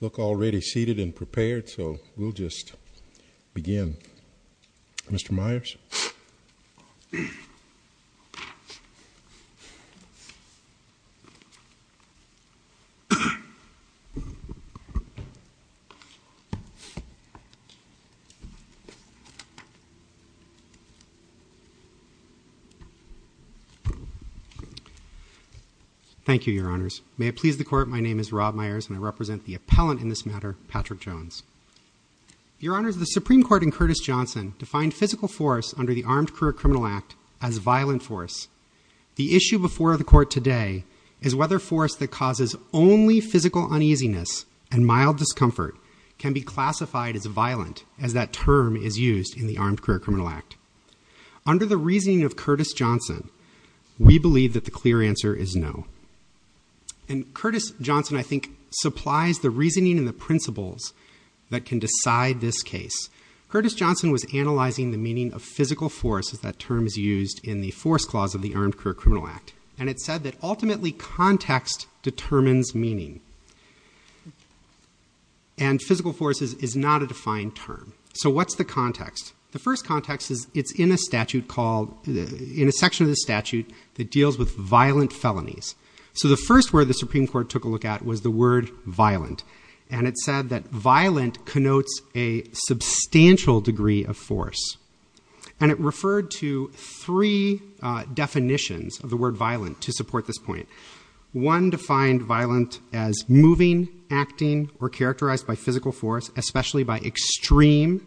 Look already seated and prepared. So we'll just begin. Mr. Myers Thank you, Your Honors. May it please the Court, my name is Rob Myers and I represent the appellant in this matter, Patrick Jones. Your Honors, the Supreme Court in Curtis-Johnson defined physical force under the Armed Career Criminal Act as violent force. The issue before the Court today is whether force that causes only physical uneasiness and mild discomfort can be classified as violent as that term is used in the Armed Career Criminal Act. Under the reasoning of Curtis-Johnson, we believe that the clear answer is no. And Curtis-Johnson I think supplies the reasoning and the principles that can decide this case. Curtis-Johnson was analyzing the meaning of physical force as that term is used in the force clause of the Armed Career Criminal Act. And it said that ultimately context determines meaning. And physical force is not a defined term. So what's the context? The first context is it's in a statute called, in a section of the statute that deals with violent felonies. So the first word the Supreme Court took a look at was the word violent. And it said that violent connotes a substantial degree of force. And it referred to three definitions of the word violent to support this point. One defined violent as moving, acting, or characterized by physical force, especially by extreme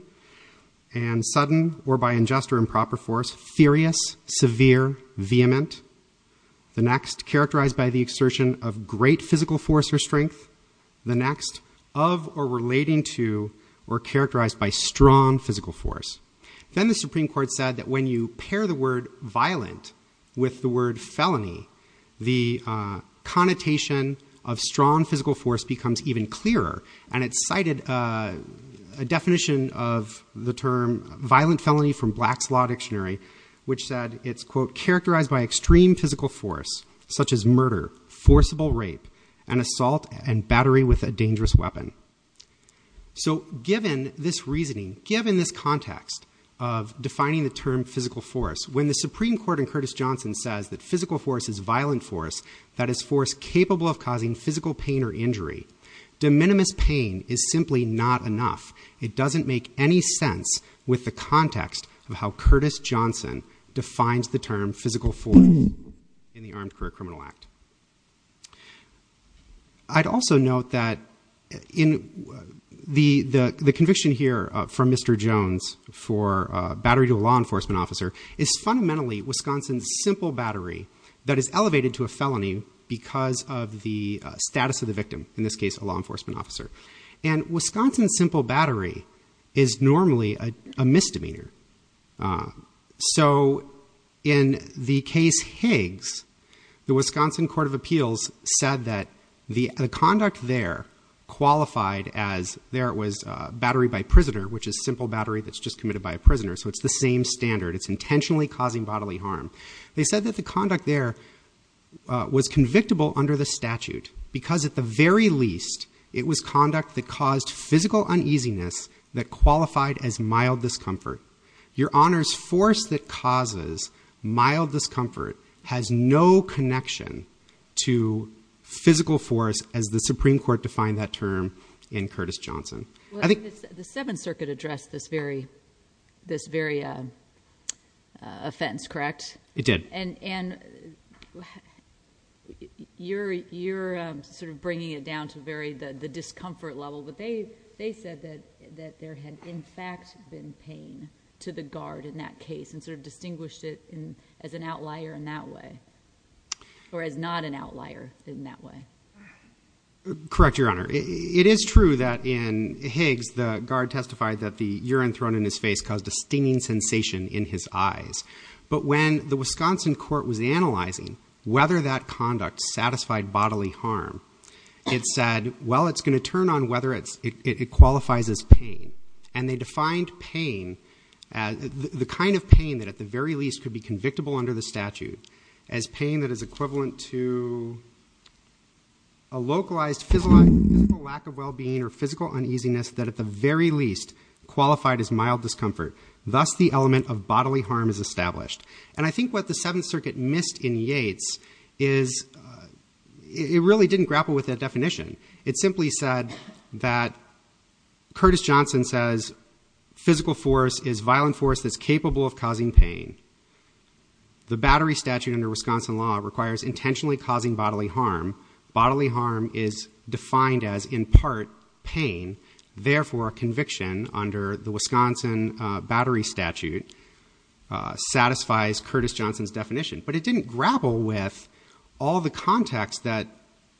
and sudden or by unjust or improper force, furious, severe, vehement. The next, characterized by the exertion of great physical force or strength. The next, of or relating to or characterized by strong physical force. Then the Supreme Court said that when you pair the word violent with the word felony, the connotation of strong physical force becomes even clearer. And it cited a definition of the term violent felony from Black's Law Dictionary, which said it's, quote, characterized by extreme physical force such as murder, forcible rape, and assault and battery with a dangerous weapon. So given this reasoning, given this context of defining the term physical force, when the Supreme Court in Curtis Johnson says that physical force is violent force, that is force capable of causing physical pain or injury, de minimis pain is simply not enough. It doesn't make any sense with the context of how Curtis Johnson defines the term physical force in the Armed Career Criminal Act. I'd also note that the conviction here from Mr. Jones for battery to a law enforcement officer is fundamentally Wisconsin's simple battery that is elevated to a felony because of the status of the victim, in this case a law enforcement officer. And is normally a misdemeanor. So in the case Higgs, the Wisconsin Court of Appeals said that the conduct there qualified as there was battery by prisoner, which is simple battery that's just committed by a prisoner. So it's the same standard. It's intentionally causing bodily harm. They said that the conduct there was convictable under the statute because at the very least it was conduct that caused physical uneasiness that qualified as mild discomfort. Your honors, force that causes mild discomfort has no connection to physical force as the Supreme Court defined that term in Curtis Johnson, I think the seventh circuit addressed this very, this very, uh, uh, offense, correct? It did. And, and you're, you're sort of bringing it down to very, the, the discomfort level, but they, they said that, that there had in fact been pain to the guard in that case and sort of distinguished it in as an outlier in that way, or as not an outlier in that way. Correct. Your honor. It is true that in Higgs, the guard testified that the urine thrown in his face caused a stinging sensation in his eyes. But when the Wisconsin court was analyzing whether that conduct satisfied bodily harm, it said, well, it's going to turn on whether it's, it qualifies as pain. And they defined pain as the kind of pain that at the very least could be convictable under the statute as pain that is equivalent to a localized physical lack of wellbeing or physical uneasiness that at the very least qualified as mild discomfort. Thus the element of bodily harm is established. And I think what the seventh circuit missed in Yates is, it really didn't grapple with that definition. It simply said that Curtis Johnson says physical force is violent force that's capable of causing pain. The battery statute under Wisconsin law requires intentionally causing bodily harm. Bodily harm is defined as in part pain. Therefore conviction under the Wisconsin battery statute satisfies Curtis Johnson's definition. But it didn't grapple with all the context that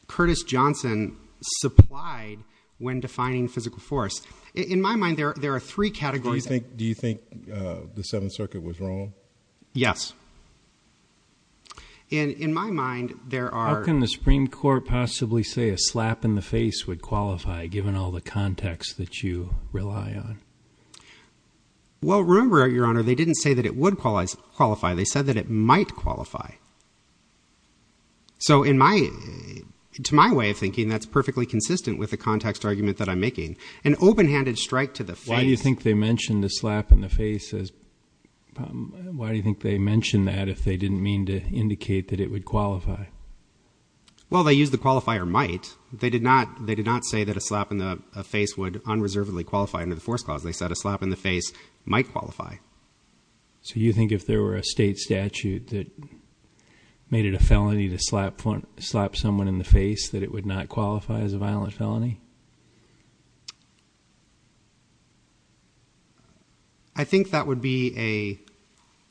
Curtis Johnson supplied when defining physical force. In my mind, there are three categories. Do you think the seventh circuit was wrong? Yes. And in my mind, there are. How can the Supreme Court possibly say a slap in the face would qualify given all the context that you rely on? Well, remember your honor, they didn't say that it would qualify. They said that it might qualify. So in my, to my way of thinking, that's perfectly consistent with the context argument that I'm making an open-handed strike to the face. Why do you think they mentioned the slap in the face as why do you think they mentioned that if they didn't mean to indicate that it would qualify? They did not say that a slap in the face would unreservedly qualify under the force clause. They said a slap in the face might qualify. So you think if there were a state statute that made it a felony to slap someone in the face that it would not qualify as a violent felony? I think that would be a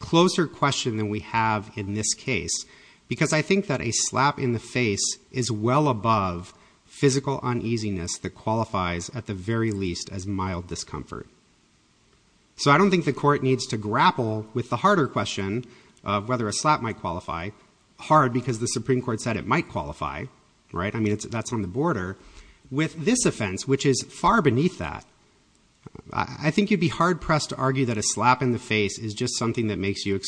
closer question than we have in this case, because I think that a slap in the face is well above physical uneasiness that qualifies at the very least as mild discomfort. So I don't think the court needs to grapple with the harder question of whether a slap might qualify hard because the Supreme Court said it might qualify, right? I mean, that's on the border with this offense, which is far beneath that. I think you'd be hard pressed to argue that a slap in the face is just something that makes you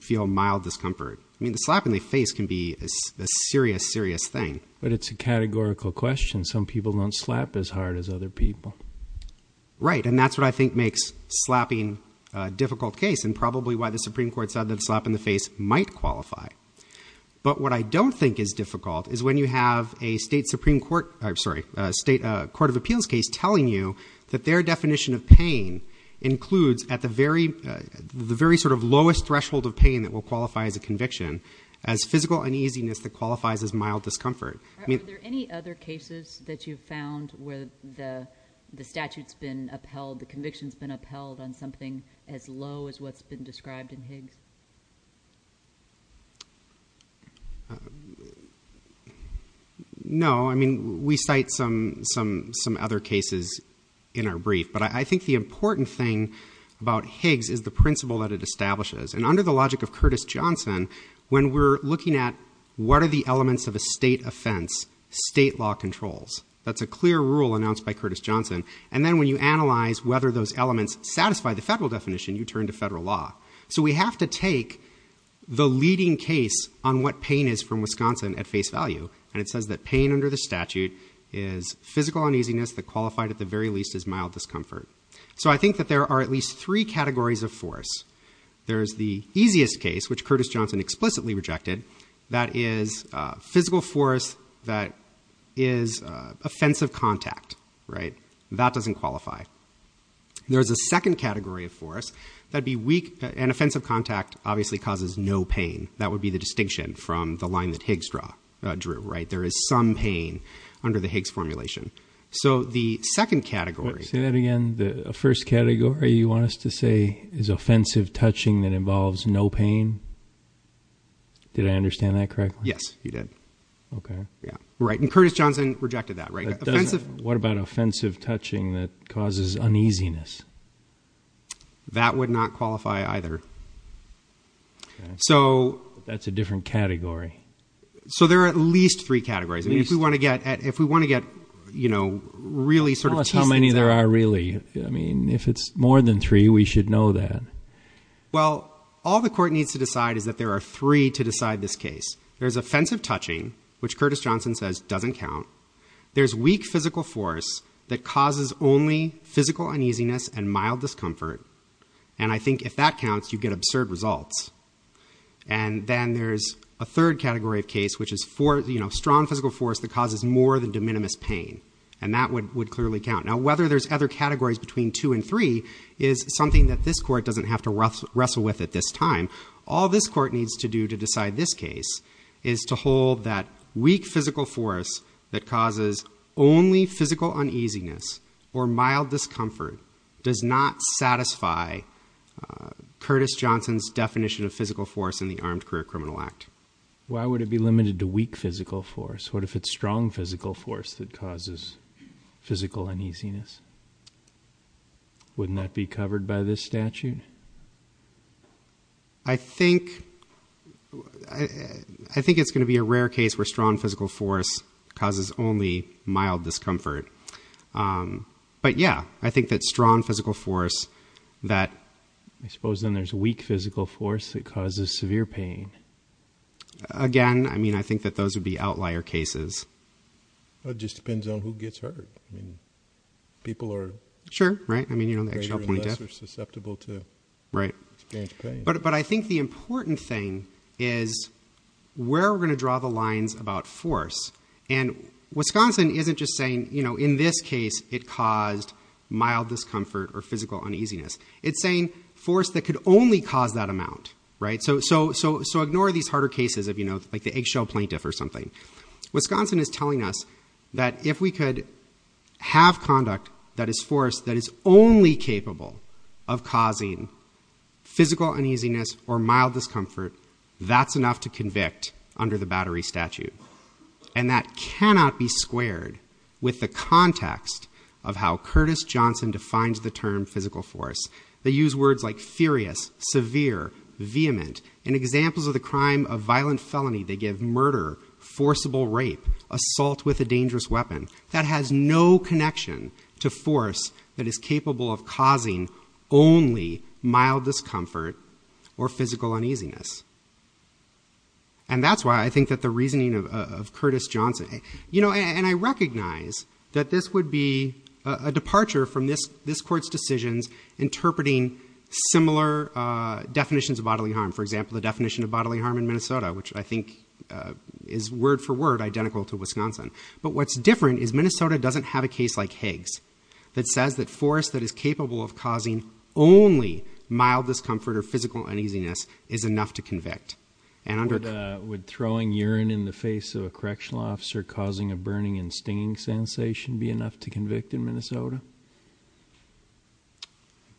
feel mild discomfort. I mean, the slap in the face can be a serious, serious thing. But it's a categorical question. Some people don't slap as hard as other people. Right, and that's what I think makes slapping a difficult case and probably why the Supreme Court said that a slap in the face might qualify. But what I don't think is difficult is when you have a state Supreme Court, sorry, a state court of appeals case telling you that their lowest threshold of pain that will qualify as a conviction as physical uneasiness that qualifies as mild discomfort. Are there any other cases that you've found where the statute's been upheld, the conviction's been upheld on something as low as what's been described in Higgs? No. I mean, we cite some other cases in our brief. But I think the important thing about this is that under the logic of Curtis Johnson, when we're looking at what are the elements of a state offense state law controls, that's a clear rule announced by Curtis Johnson. And then when you analyze whether those elements satisfy the federal definition, you turn to federal law. So we have to take the leading case on what pain is from Wisconsin at face value. And it says that pain under the statute is physical uneasiness that qualified at the very least as mild discomfort. So I think that there are at least three categories of force. There's the easiest case, which Curtis Johnson explicitly rejected, that is physical force that is offensive contact. That doesn't qualify. There's a second category of force that'd be weak and offensive contact obviously causes no pain. That would be the distinction from the line that Higgs drew. There is some pain under the Higgs formulation. So the second category- Say that again. The first category you want us to say is offensive touching that involves no pain. Did I understand that correctly? Yes, you did. Okay. Yeah. Right. And Curtis Johnson rejected that, right? What about offensive touching that causes uneasiness? That would not qualify either. So that's a different category. So there are at least three categories. I mean, if we want to get, you know, really sort of teased into that- Tell us how many there are really. I mean, if it's more than three, we should know that. Well, all the court needs to decide is that there are three to decide this case. There's offensive touching, which Curtis Johnson says doesn't count. There's weak physical force that causes only physical uneasiness and mild discomfort. And I think if that counts, you get absurd results. And then there's a third category of case, which is strong physical force that causes more than de minimis pain. And that would clearly count. Now, whether there's other categories between two and three is something that this court doesn't have to wrestle with at this time. All this court needs to do to decide this case is to hold that weak physical force that causes only physical uneasiness or mild discomfort does not satisfy Curtis Johnson's definition of physical force in the Armed Career Criminal Act. Why would it be limited to weak physical force? What if it's strong physical force that causes physical uneasiness? Wouldn't that be covered by this statute? I think it's going to be a rare case where strong physical force causes only mild discomfort. But yeah, I think that strong physical force that... I suppose then there's weak physical force that causes severe pain. Again, I mean, I think that those would be outlier cases. It just depends on who gets hurt. I mean, people are... Sure. Right. I mean, you know, the actual point is... ...greater or lesser susceptible to... Right. ...experienced pain. But I think the important thing is where we're going to draw the lines about force. And Wisconsin isn't just saying, you know, in this case it caused mild discomfort or physical uneasiness. It's saying force that could only cause that amount, right? So ignore these harder cases of, you know, like the eggshell plaintiff or something. Wisconsin is telling us that if we could have conduct that is force that is only capable of causing physical uneasiness or mild discomfort, that's enough to convict under the Battery Statute. And that cannot be squared with the context of how Curtis Johnson defines the term physical force. They use words like furious, severe, vehement. In examples of the crime of violent felony, they give murder, forcible rape, assault with a dangerous weapon. That has no connection to force that is capable of causing only mild discomfort or physical uneasiness. And that's why I think that the reasoning of Curtis Johnson... You know, and I recognize that this would be a departure from this court's decisions interpreting similar definitions of bodily harm. For example, the definition of bodily harm in Minnesota, which I think is word for word identical to Wisconsin. But what's different is Minnesota doesn't have a case like Higgs that says that force that is capable of causing only mild discomfort or physical uneasiness is enough to convict. Would throwing urine in the face of a correctional officer causing a burning and stinging sensation be enough to convict in Minnesota?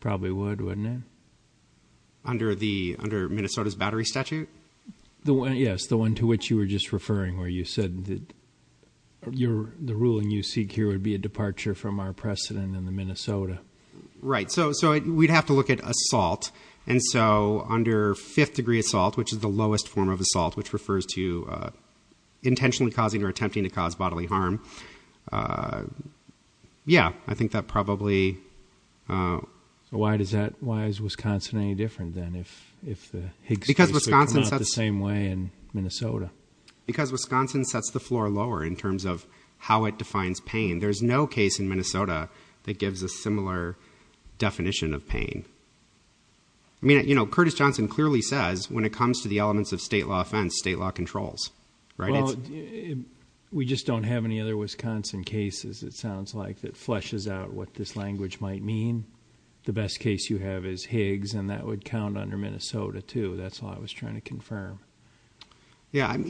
Probably would, wouldn't it? Under Minnesota's Battery Statute? Yes, the one to which you were just referring, where you said that the ruling you seek here would be a departure from our precedent in Minnesota. Right. So we'd have to look at assault. And so under fifth degree assault, which is the lowest form of assault, which refers to intentionally causing or attempting to cause bodily harm. Yeah, I think that probably... So why is Wisconsin any different than if the Higgs ratio came out the same way in Minnesota? Because Wisconsin sets the floor lower in terms of how it defines pain. There's no case in Minnesota that gives a similar definition of pain. I mean, Curtis Johnson clearly says when it comes to the elements of state law offense, state law controls, right? Well, we just don't have any other Wisconsin cases, it sounds like, that fleshes out what this language might mean. The best case you have is Higgs, and that would count under Minnesota, too. That's all I was trying to confirm. Yeah. I'm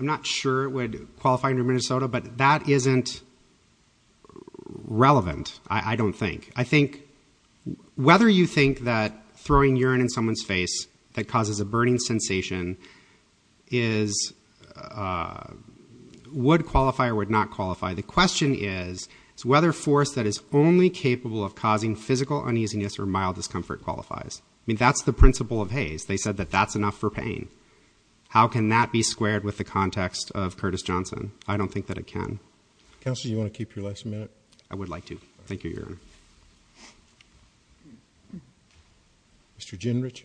not sure it would qualify under Minnesota, but that isn't relevant, I don't think. I think whether you think that throwing urine in someone's face that causes a burning sensation would qualify or would not qualify. The question is whether force that is only capable of causing physical uneasiness or mild discomfort qualifies. I mean, that's the principle of Hays. They said that that's enough for pain. How can that be squared with the context of Curtis Johnson? I don't think that it can. Counselor, do you want to keep your last minute? I would like to. Thank you, Your Honor. Mr. Genrich.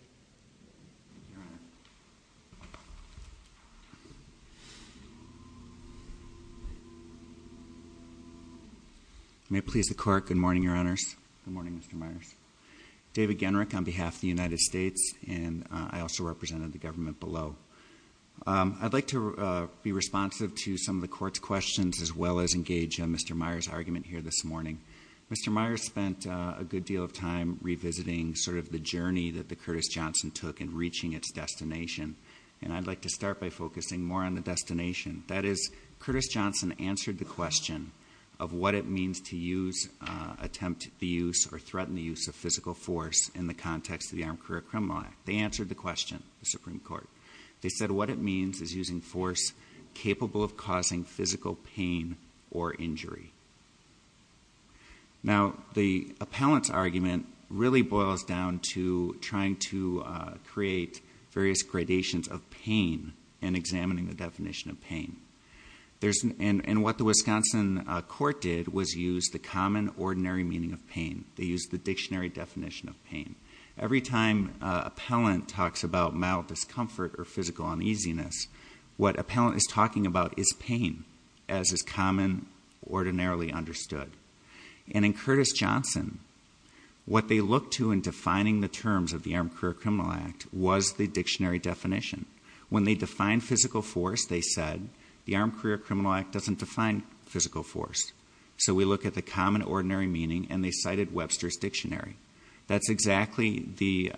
May it please the court, good morning, Your Honors. Good morning, Mr. Myers. David Genrich on behalf of the United States, and I also represented the government below. I'd like to be responsive to some of the court's questions as well as engage in Mr. Myers' argument here this morning. Mr. Myers spent a good deal of time revisiting sort of the journey that the Curtis Johnson took in reaching its destination, and I'd like to start by focusing more on the destination. That is, Curtis Johnson answered the question of what it means to use, attempt the use, or threaten the use of physical force in the context of the Armed Career Criminal Act. They answered the question, the Supreme Court. They said what it means is using force capable of causing physical pain or injury. Now, the appellant's argument really boils down to trying to create various gradations of pain and examining the definition of pain. There's, and what the Wisconsin court did was use the common ordinary meaning of pain. They used the dictionary definition of pain. Every time an appellant talks about mental discomfort or physical uneasiness, what an appellant is talking about is pain as is common, ordinarily understood. And in Curtis Johnson, what they looked to in defining the terms of the Armed Career Criminal Act was the dictionary definition. When they defined physical force, they said the Armed Career Criminal Act doesn't define physical force. So we look at the common ordinary meaning, and they cited Webster's Dictionary. That's exactly the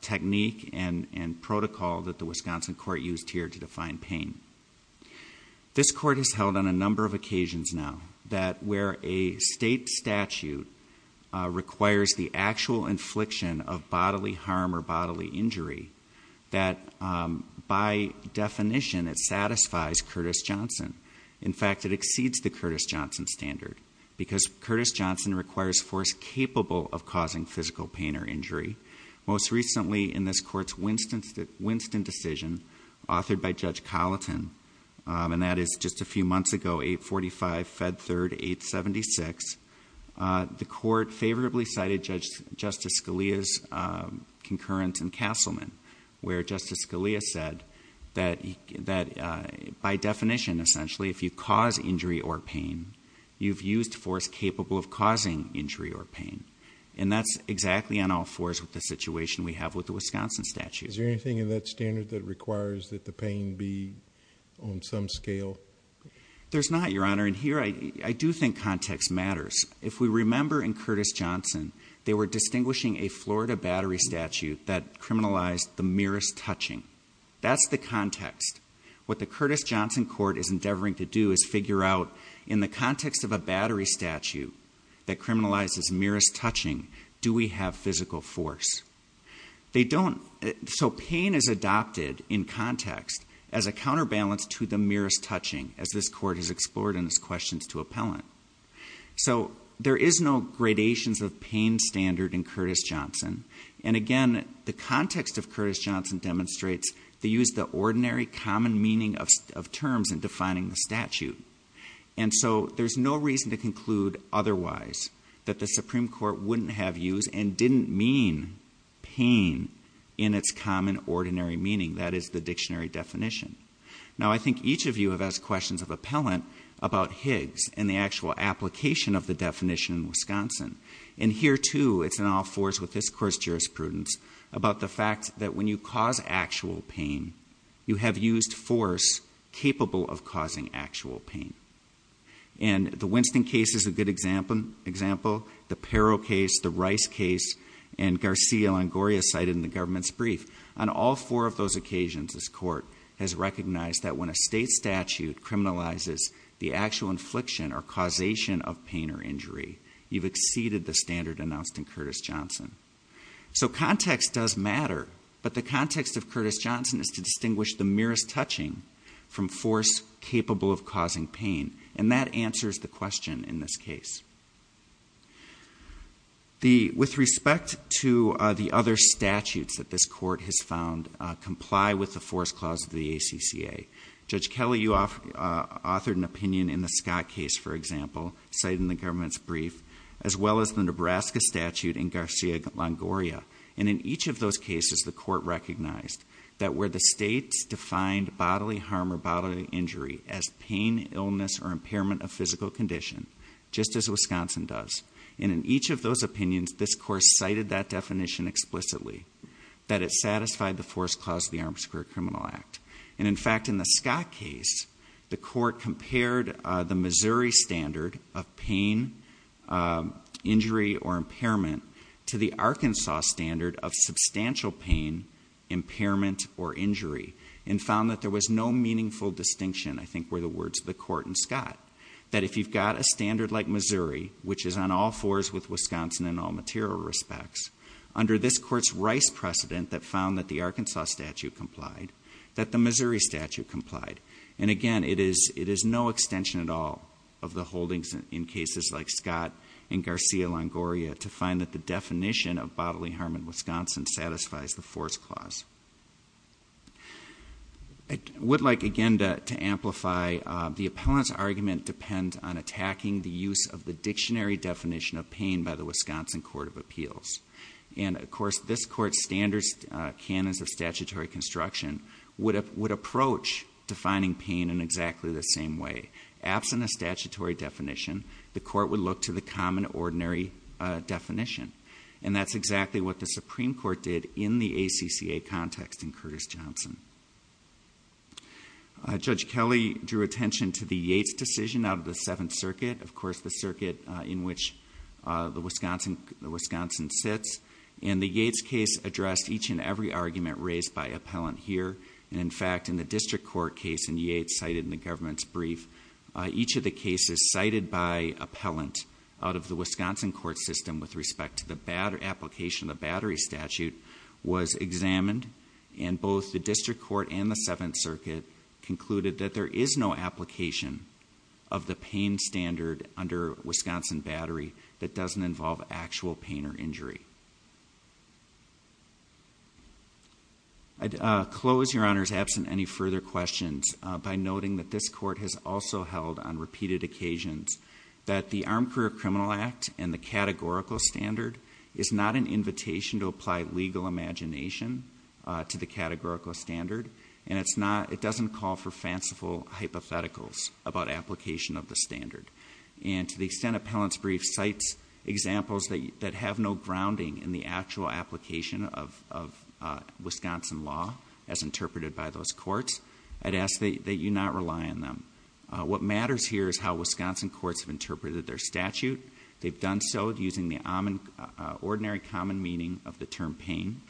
technique and protocol that the Wisconsin court used here to define pain. This court has held on a number of occasions now that where a state statute requires the actual infliction of bodily harm or bodily injury, it does not satisfy Curtis Johnson. In fact, it exceeds the Curtis Johnson standard because Curtis Johnson requires force capable of causing physical pain or injury. Most recently in this court's Winston decision authored by Judge Colleton, and that is just a few months ago, 845, Fed Third, 876, the court favorably cited Justice Scalia's concurrence in by definition, essentially, if you cause injury or pain, you've used force capable of causing injury or pain. And that's exactly on all fours with the situation we have with the Wisconsin statute. Is there anything in that standard that requires that the pain be on some scale? There's not, Your Honor. And here I do think context matters. If we remember in Curtis Johnson, they were distinguishing a Florida battery statute that criminalized the merest touching. That's the context. What the Curtis Johnson court is endeavoring to do is figure out in the context of a battery statute that criminalizes merest touching, do we have physical force? So pain is adopted in context as a counterbalance to the merest touching as this court has explored in its questions to appellant. So there is no gradations of pain standard in use the ordinary common meaning of terms and defining the statute. And so there's no reason to conclude otherwise that the Supreme Court wouldn't have used and didn't mean pain in its common ordinary meaning. That is the dictionary definition. Now, I think each of you have asked questions of appellant about Higgs and the actual application of the definition in Wisconsin. And here too, it's in all fours with this course jurisprudence about the fact that when you cause actual pain, you have used force capable of causing actual pain. And the Winston case is a good example. The peril case, the rice case, and Garcia Longoria cited in the government's brief on all four of those occasions, this court has recognized that when a state statute criminalizes the actual infliction or causation of pain or injury, you've exceeded the standard announced in Curtis Johnson. So context does matter, but the context of Curtis Johnson is to distinguish the merest touching from force capable of causing pain. And that answers the question in this case. With respect to the other statutes that this court has found comply with the force clause of the ACCA, Judge Kelly, you off authored an opinion in the Scott case, for example, cited in the government's brief, as well as the Nebraska statute in Garcia Longoria. And in each of those cases, the court recognized that where the state's defined bodily harm or bodily injury as pain, illness, or impairment of physical condition, just as Wisconsin does. And in each of those opinions, this course cited that definition explicitly, that it satisfied the force clause of the Armed Square Criminal Act. And in fact, in the Scott case, the court compared the Missouri standard of pain, injury, or impairment to the Arkansas standard of substantial pain, impairment, or injury, and found that there was no meaningful distinction, I think, were the words of the court in Scott. That if you've got a standard like Missouri, which is on all fours with Wisconsin in all material respects, under this court's Arkansas statute complied, that the Missouri statute complied. And again, it is no extension at all of the holdings in cases like Scott and Garcia Longoria to find that the definition of bodily harm in Wisconsin satisfies the force clause. I would like, again, to amplify the appellant's argument depends on attacking the use of the dictionary definition of pain by the statutory construction would approach defining pain in exactly the same way. Absent a statutory definition, the court would look to the common, ordinary definition. And that's exactly what the Supreme Court did in the ACCA context in Curtis-Johnson. Judge Kelly drew attention to the Yates decision out of the Seventh Circuit, of course, the circuit in which the Wisconsin sits. And the Yates case addressed each and every argument raised by appellant here. And in fact, in the district court case in Yates cited in the government's brief, each of the cases cited by appellant out of the Wisconsin court system with respect to the application of the battery statute was examined. And both the district court and the Seventh Circuit concluded that there is no application of the pain standard under Wisconsin battery that doesn't involve actual pain or injury. I'd close, Your Honor, is absent any further questions by noting that this court has also held on repeated occasions that the Armed Career Criminal Act and the categorical standard is not an invitation to apply legal imagination to the categorical standard. And it's not, it doesn't call for fanciful hypotheticals about application of the standard. And to the extent appellant's brief cites examples that have no grounding in the actual application of Wisconsin law as interpreted by those courts, I'd ask that you not rely on them. What matters here is how Wisconsin courts have interpreted their statute. They've done so using the ordinary common meaning of the term pain.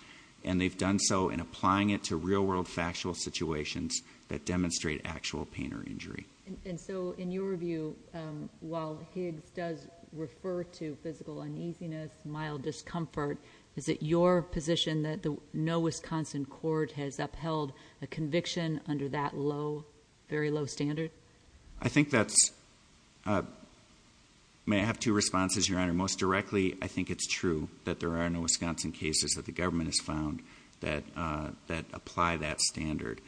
And they've done so in applying it to real world factual situations that demonstrate actual pain or injury. And so in your view, while Higgs does refer to physical uneasiness, mild discomfort, is it your position that no Wisconsin court has upheld a conviction under that low, very low standard? I think that's, may I have two responses, Your Honor? Most directly, I think it's true that there are no Wisconsin cases that the government has found that apply that standard.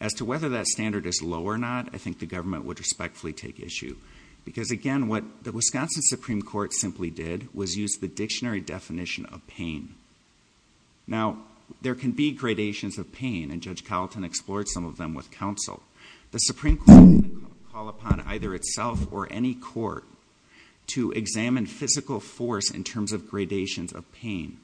As to whether that standard is low or not, I think the government would respectfully take issue. Because again, what the Wisconsin Supreme Court simply did was use the dictionary definition of pain. Now, there can be gradations of pain, and Judge Carlton explored some of them with counsel. The Supreme Court didn't call upon either itself or any court to examine physical force in terms of gradations of pain.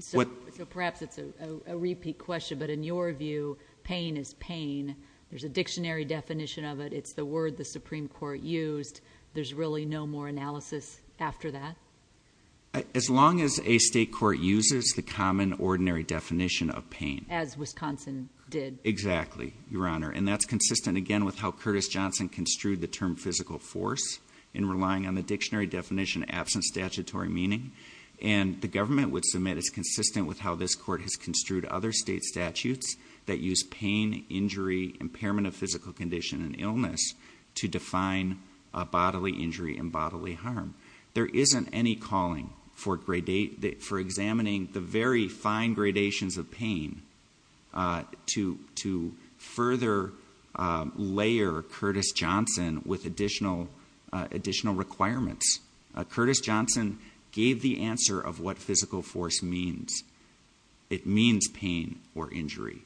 So perhaps it's a repeat question, but in your view, pain is pain. There's a dictionary definition of it. It's the word the Supreme Court used. There's really no more analysis after that? As long as a state court uses the common, ordinary definition of pain. As Wisconsin did. Exactly, Your Honor. And that's consistent again with how Curtis Johnson construed the term physical force in relying on the dictionary definition absent statutory meaning. And the government would submit it's consistent with how this court has construed other state statutes that use pain, injury, impairment of physical condition, and illness to define bodily injury and bodily harm. There isn't any calling for examining the very fine gradations of pain to further layer Curtis Johnson with additional requirements. Curtis Johnson gave the answer of what physical force means. It means pain or injury.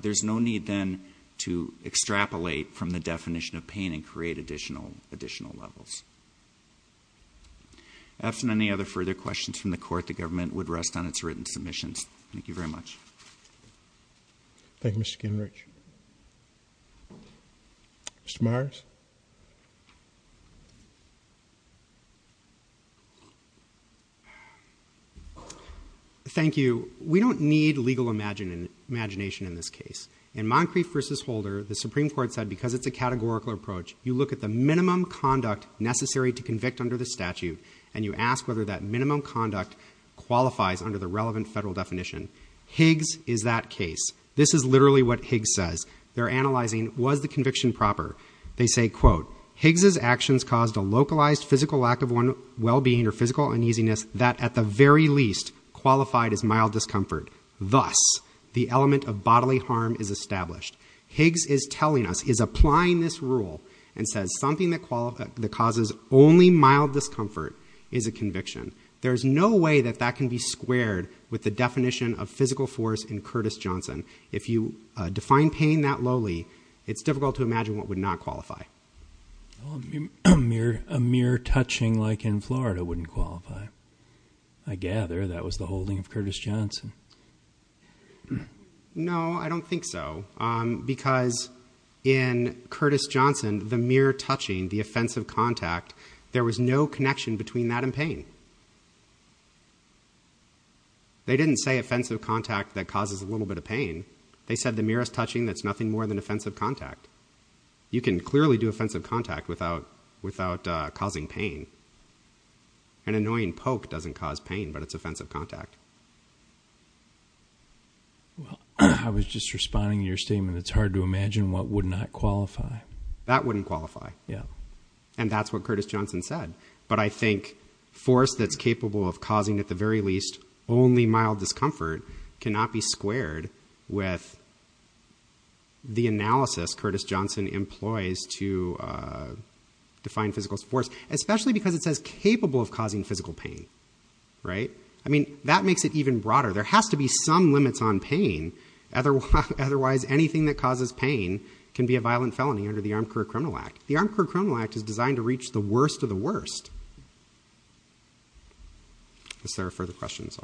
There's no need then to extrapolate from the definition of pain and create additional levels. After any other further questions from the court, the government would rest on its written Thank you very much. Thank you, Mr. Kinrich. Mr. Myers. Thank you. We don't need legal imagination in this case. In Moncrief v. Holder, the Supreme Court said because it's a categorical approach, you look at the minimum conduct necessary to convict under the statute, and you ask whether that minimum conduct qualifies under the relevant federal definition. Higgs is that case. This is literally what Higgs says. They're analyzing, was the conviction proper? They say, quote, Higgs's actions caused a localized physical lack of well-being or physical uneasiness that at the very least qualified as mild discomfort. Thus, the element of bodily harm is established. Higgs is telling us, is applying this rule, and says something that causes only mild discomfort is a conviction. There's no way that that can be squared with the definition of physical force in Curtis Johnson. If you define pain that lowly, it's difficult to imagine what would not qualify. A mere touching like in Florida wouldn't qualify. I gather that was the holding of Curtis Johnson. No, I don't think so. Because in Curtis Johnson, the mere touching, the offensive contact, there was no connection between that and pain. They didn't say offensive contact that causes a little bit of pain. They said the merest touching, that's nothing more than offensive contact. You can clearly do offensive contact without causing pain. An annoying poke doesn't cause pain, but it's offensive contact. Well, I was just responding to your statement. It's hard to imagine what would not qualify. That wouldn't qualify. And that's what Curtis Johnson said. But I think force that's capable of causing at the very least only mild discomfort cannot be squared with the analysis Curtis Johnson employs to define physical force, especially because it says capable of causing physical pain. I mean, that makes it even broader. There has to be some can be a violent felony under the Armed Career Criminal Act. The Armed Career Criminal Act is designed to reach the worst of the worst. I guess there are further questions.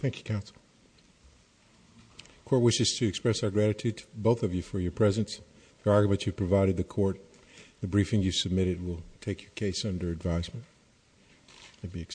Thank you, counsel. The court wishes to express our gratitude to both of you for your presence, your argument you provided the court. The briefing you submitted will take your case under advisement and be accepted.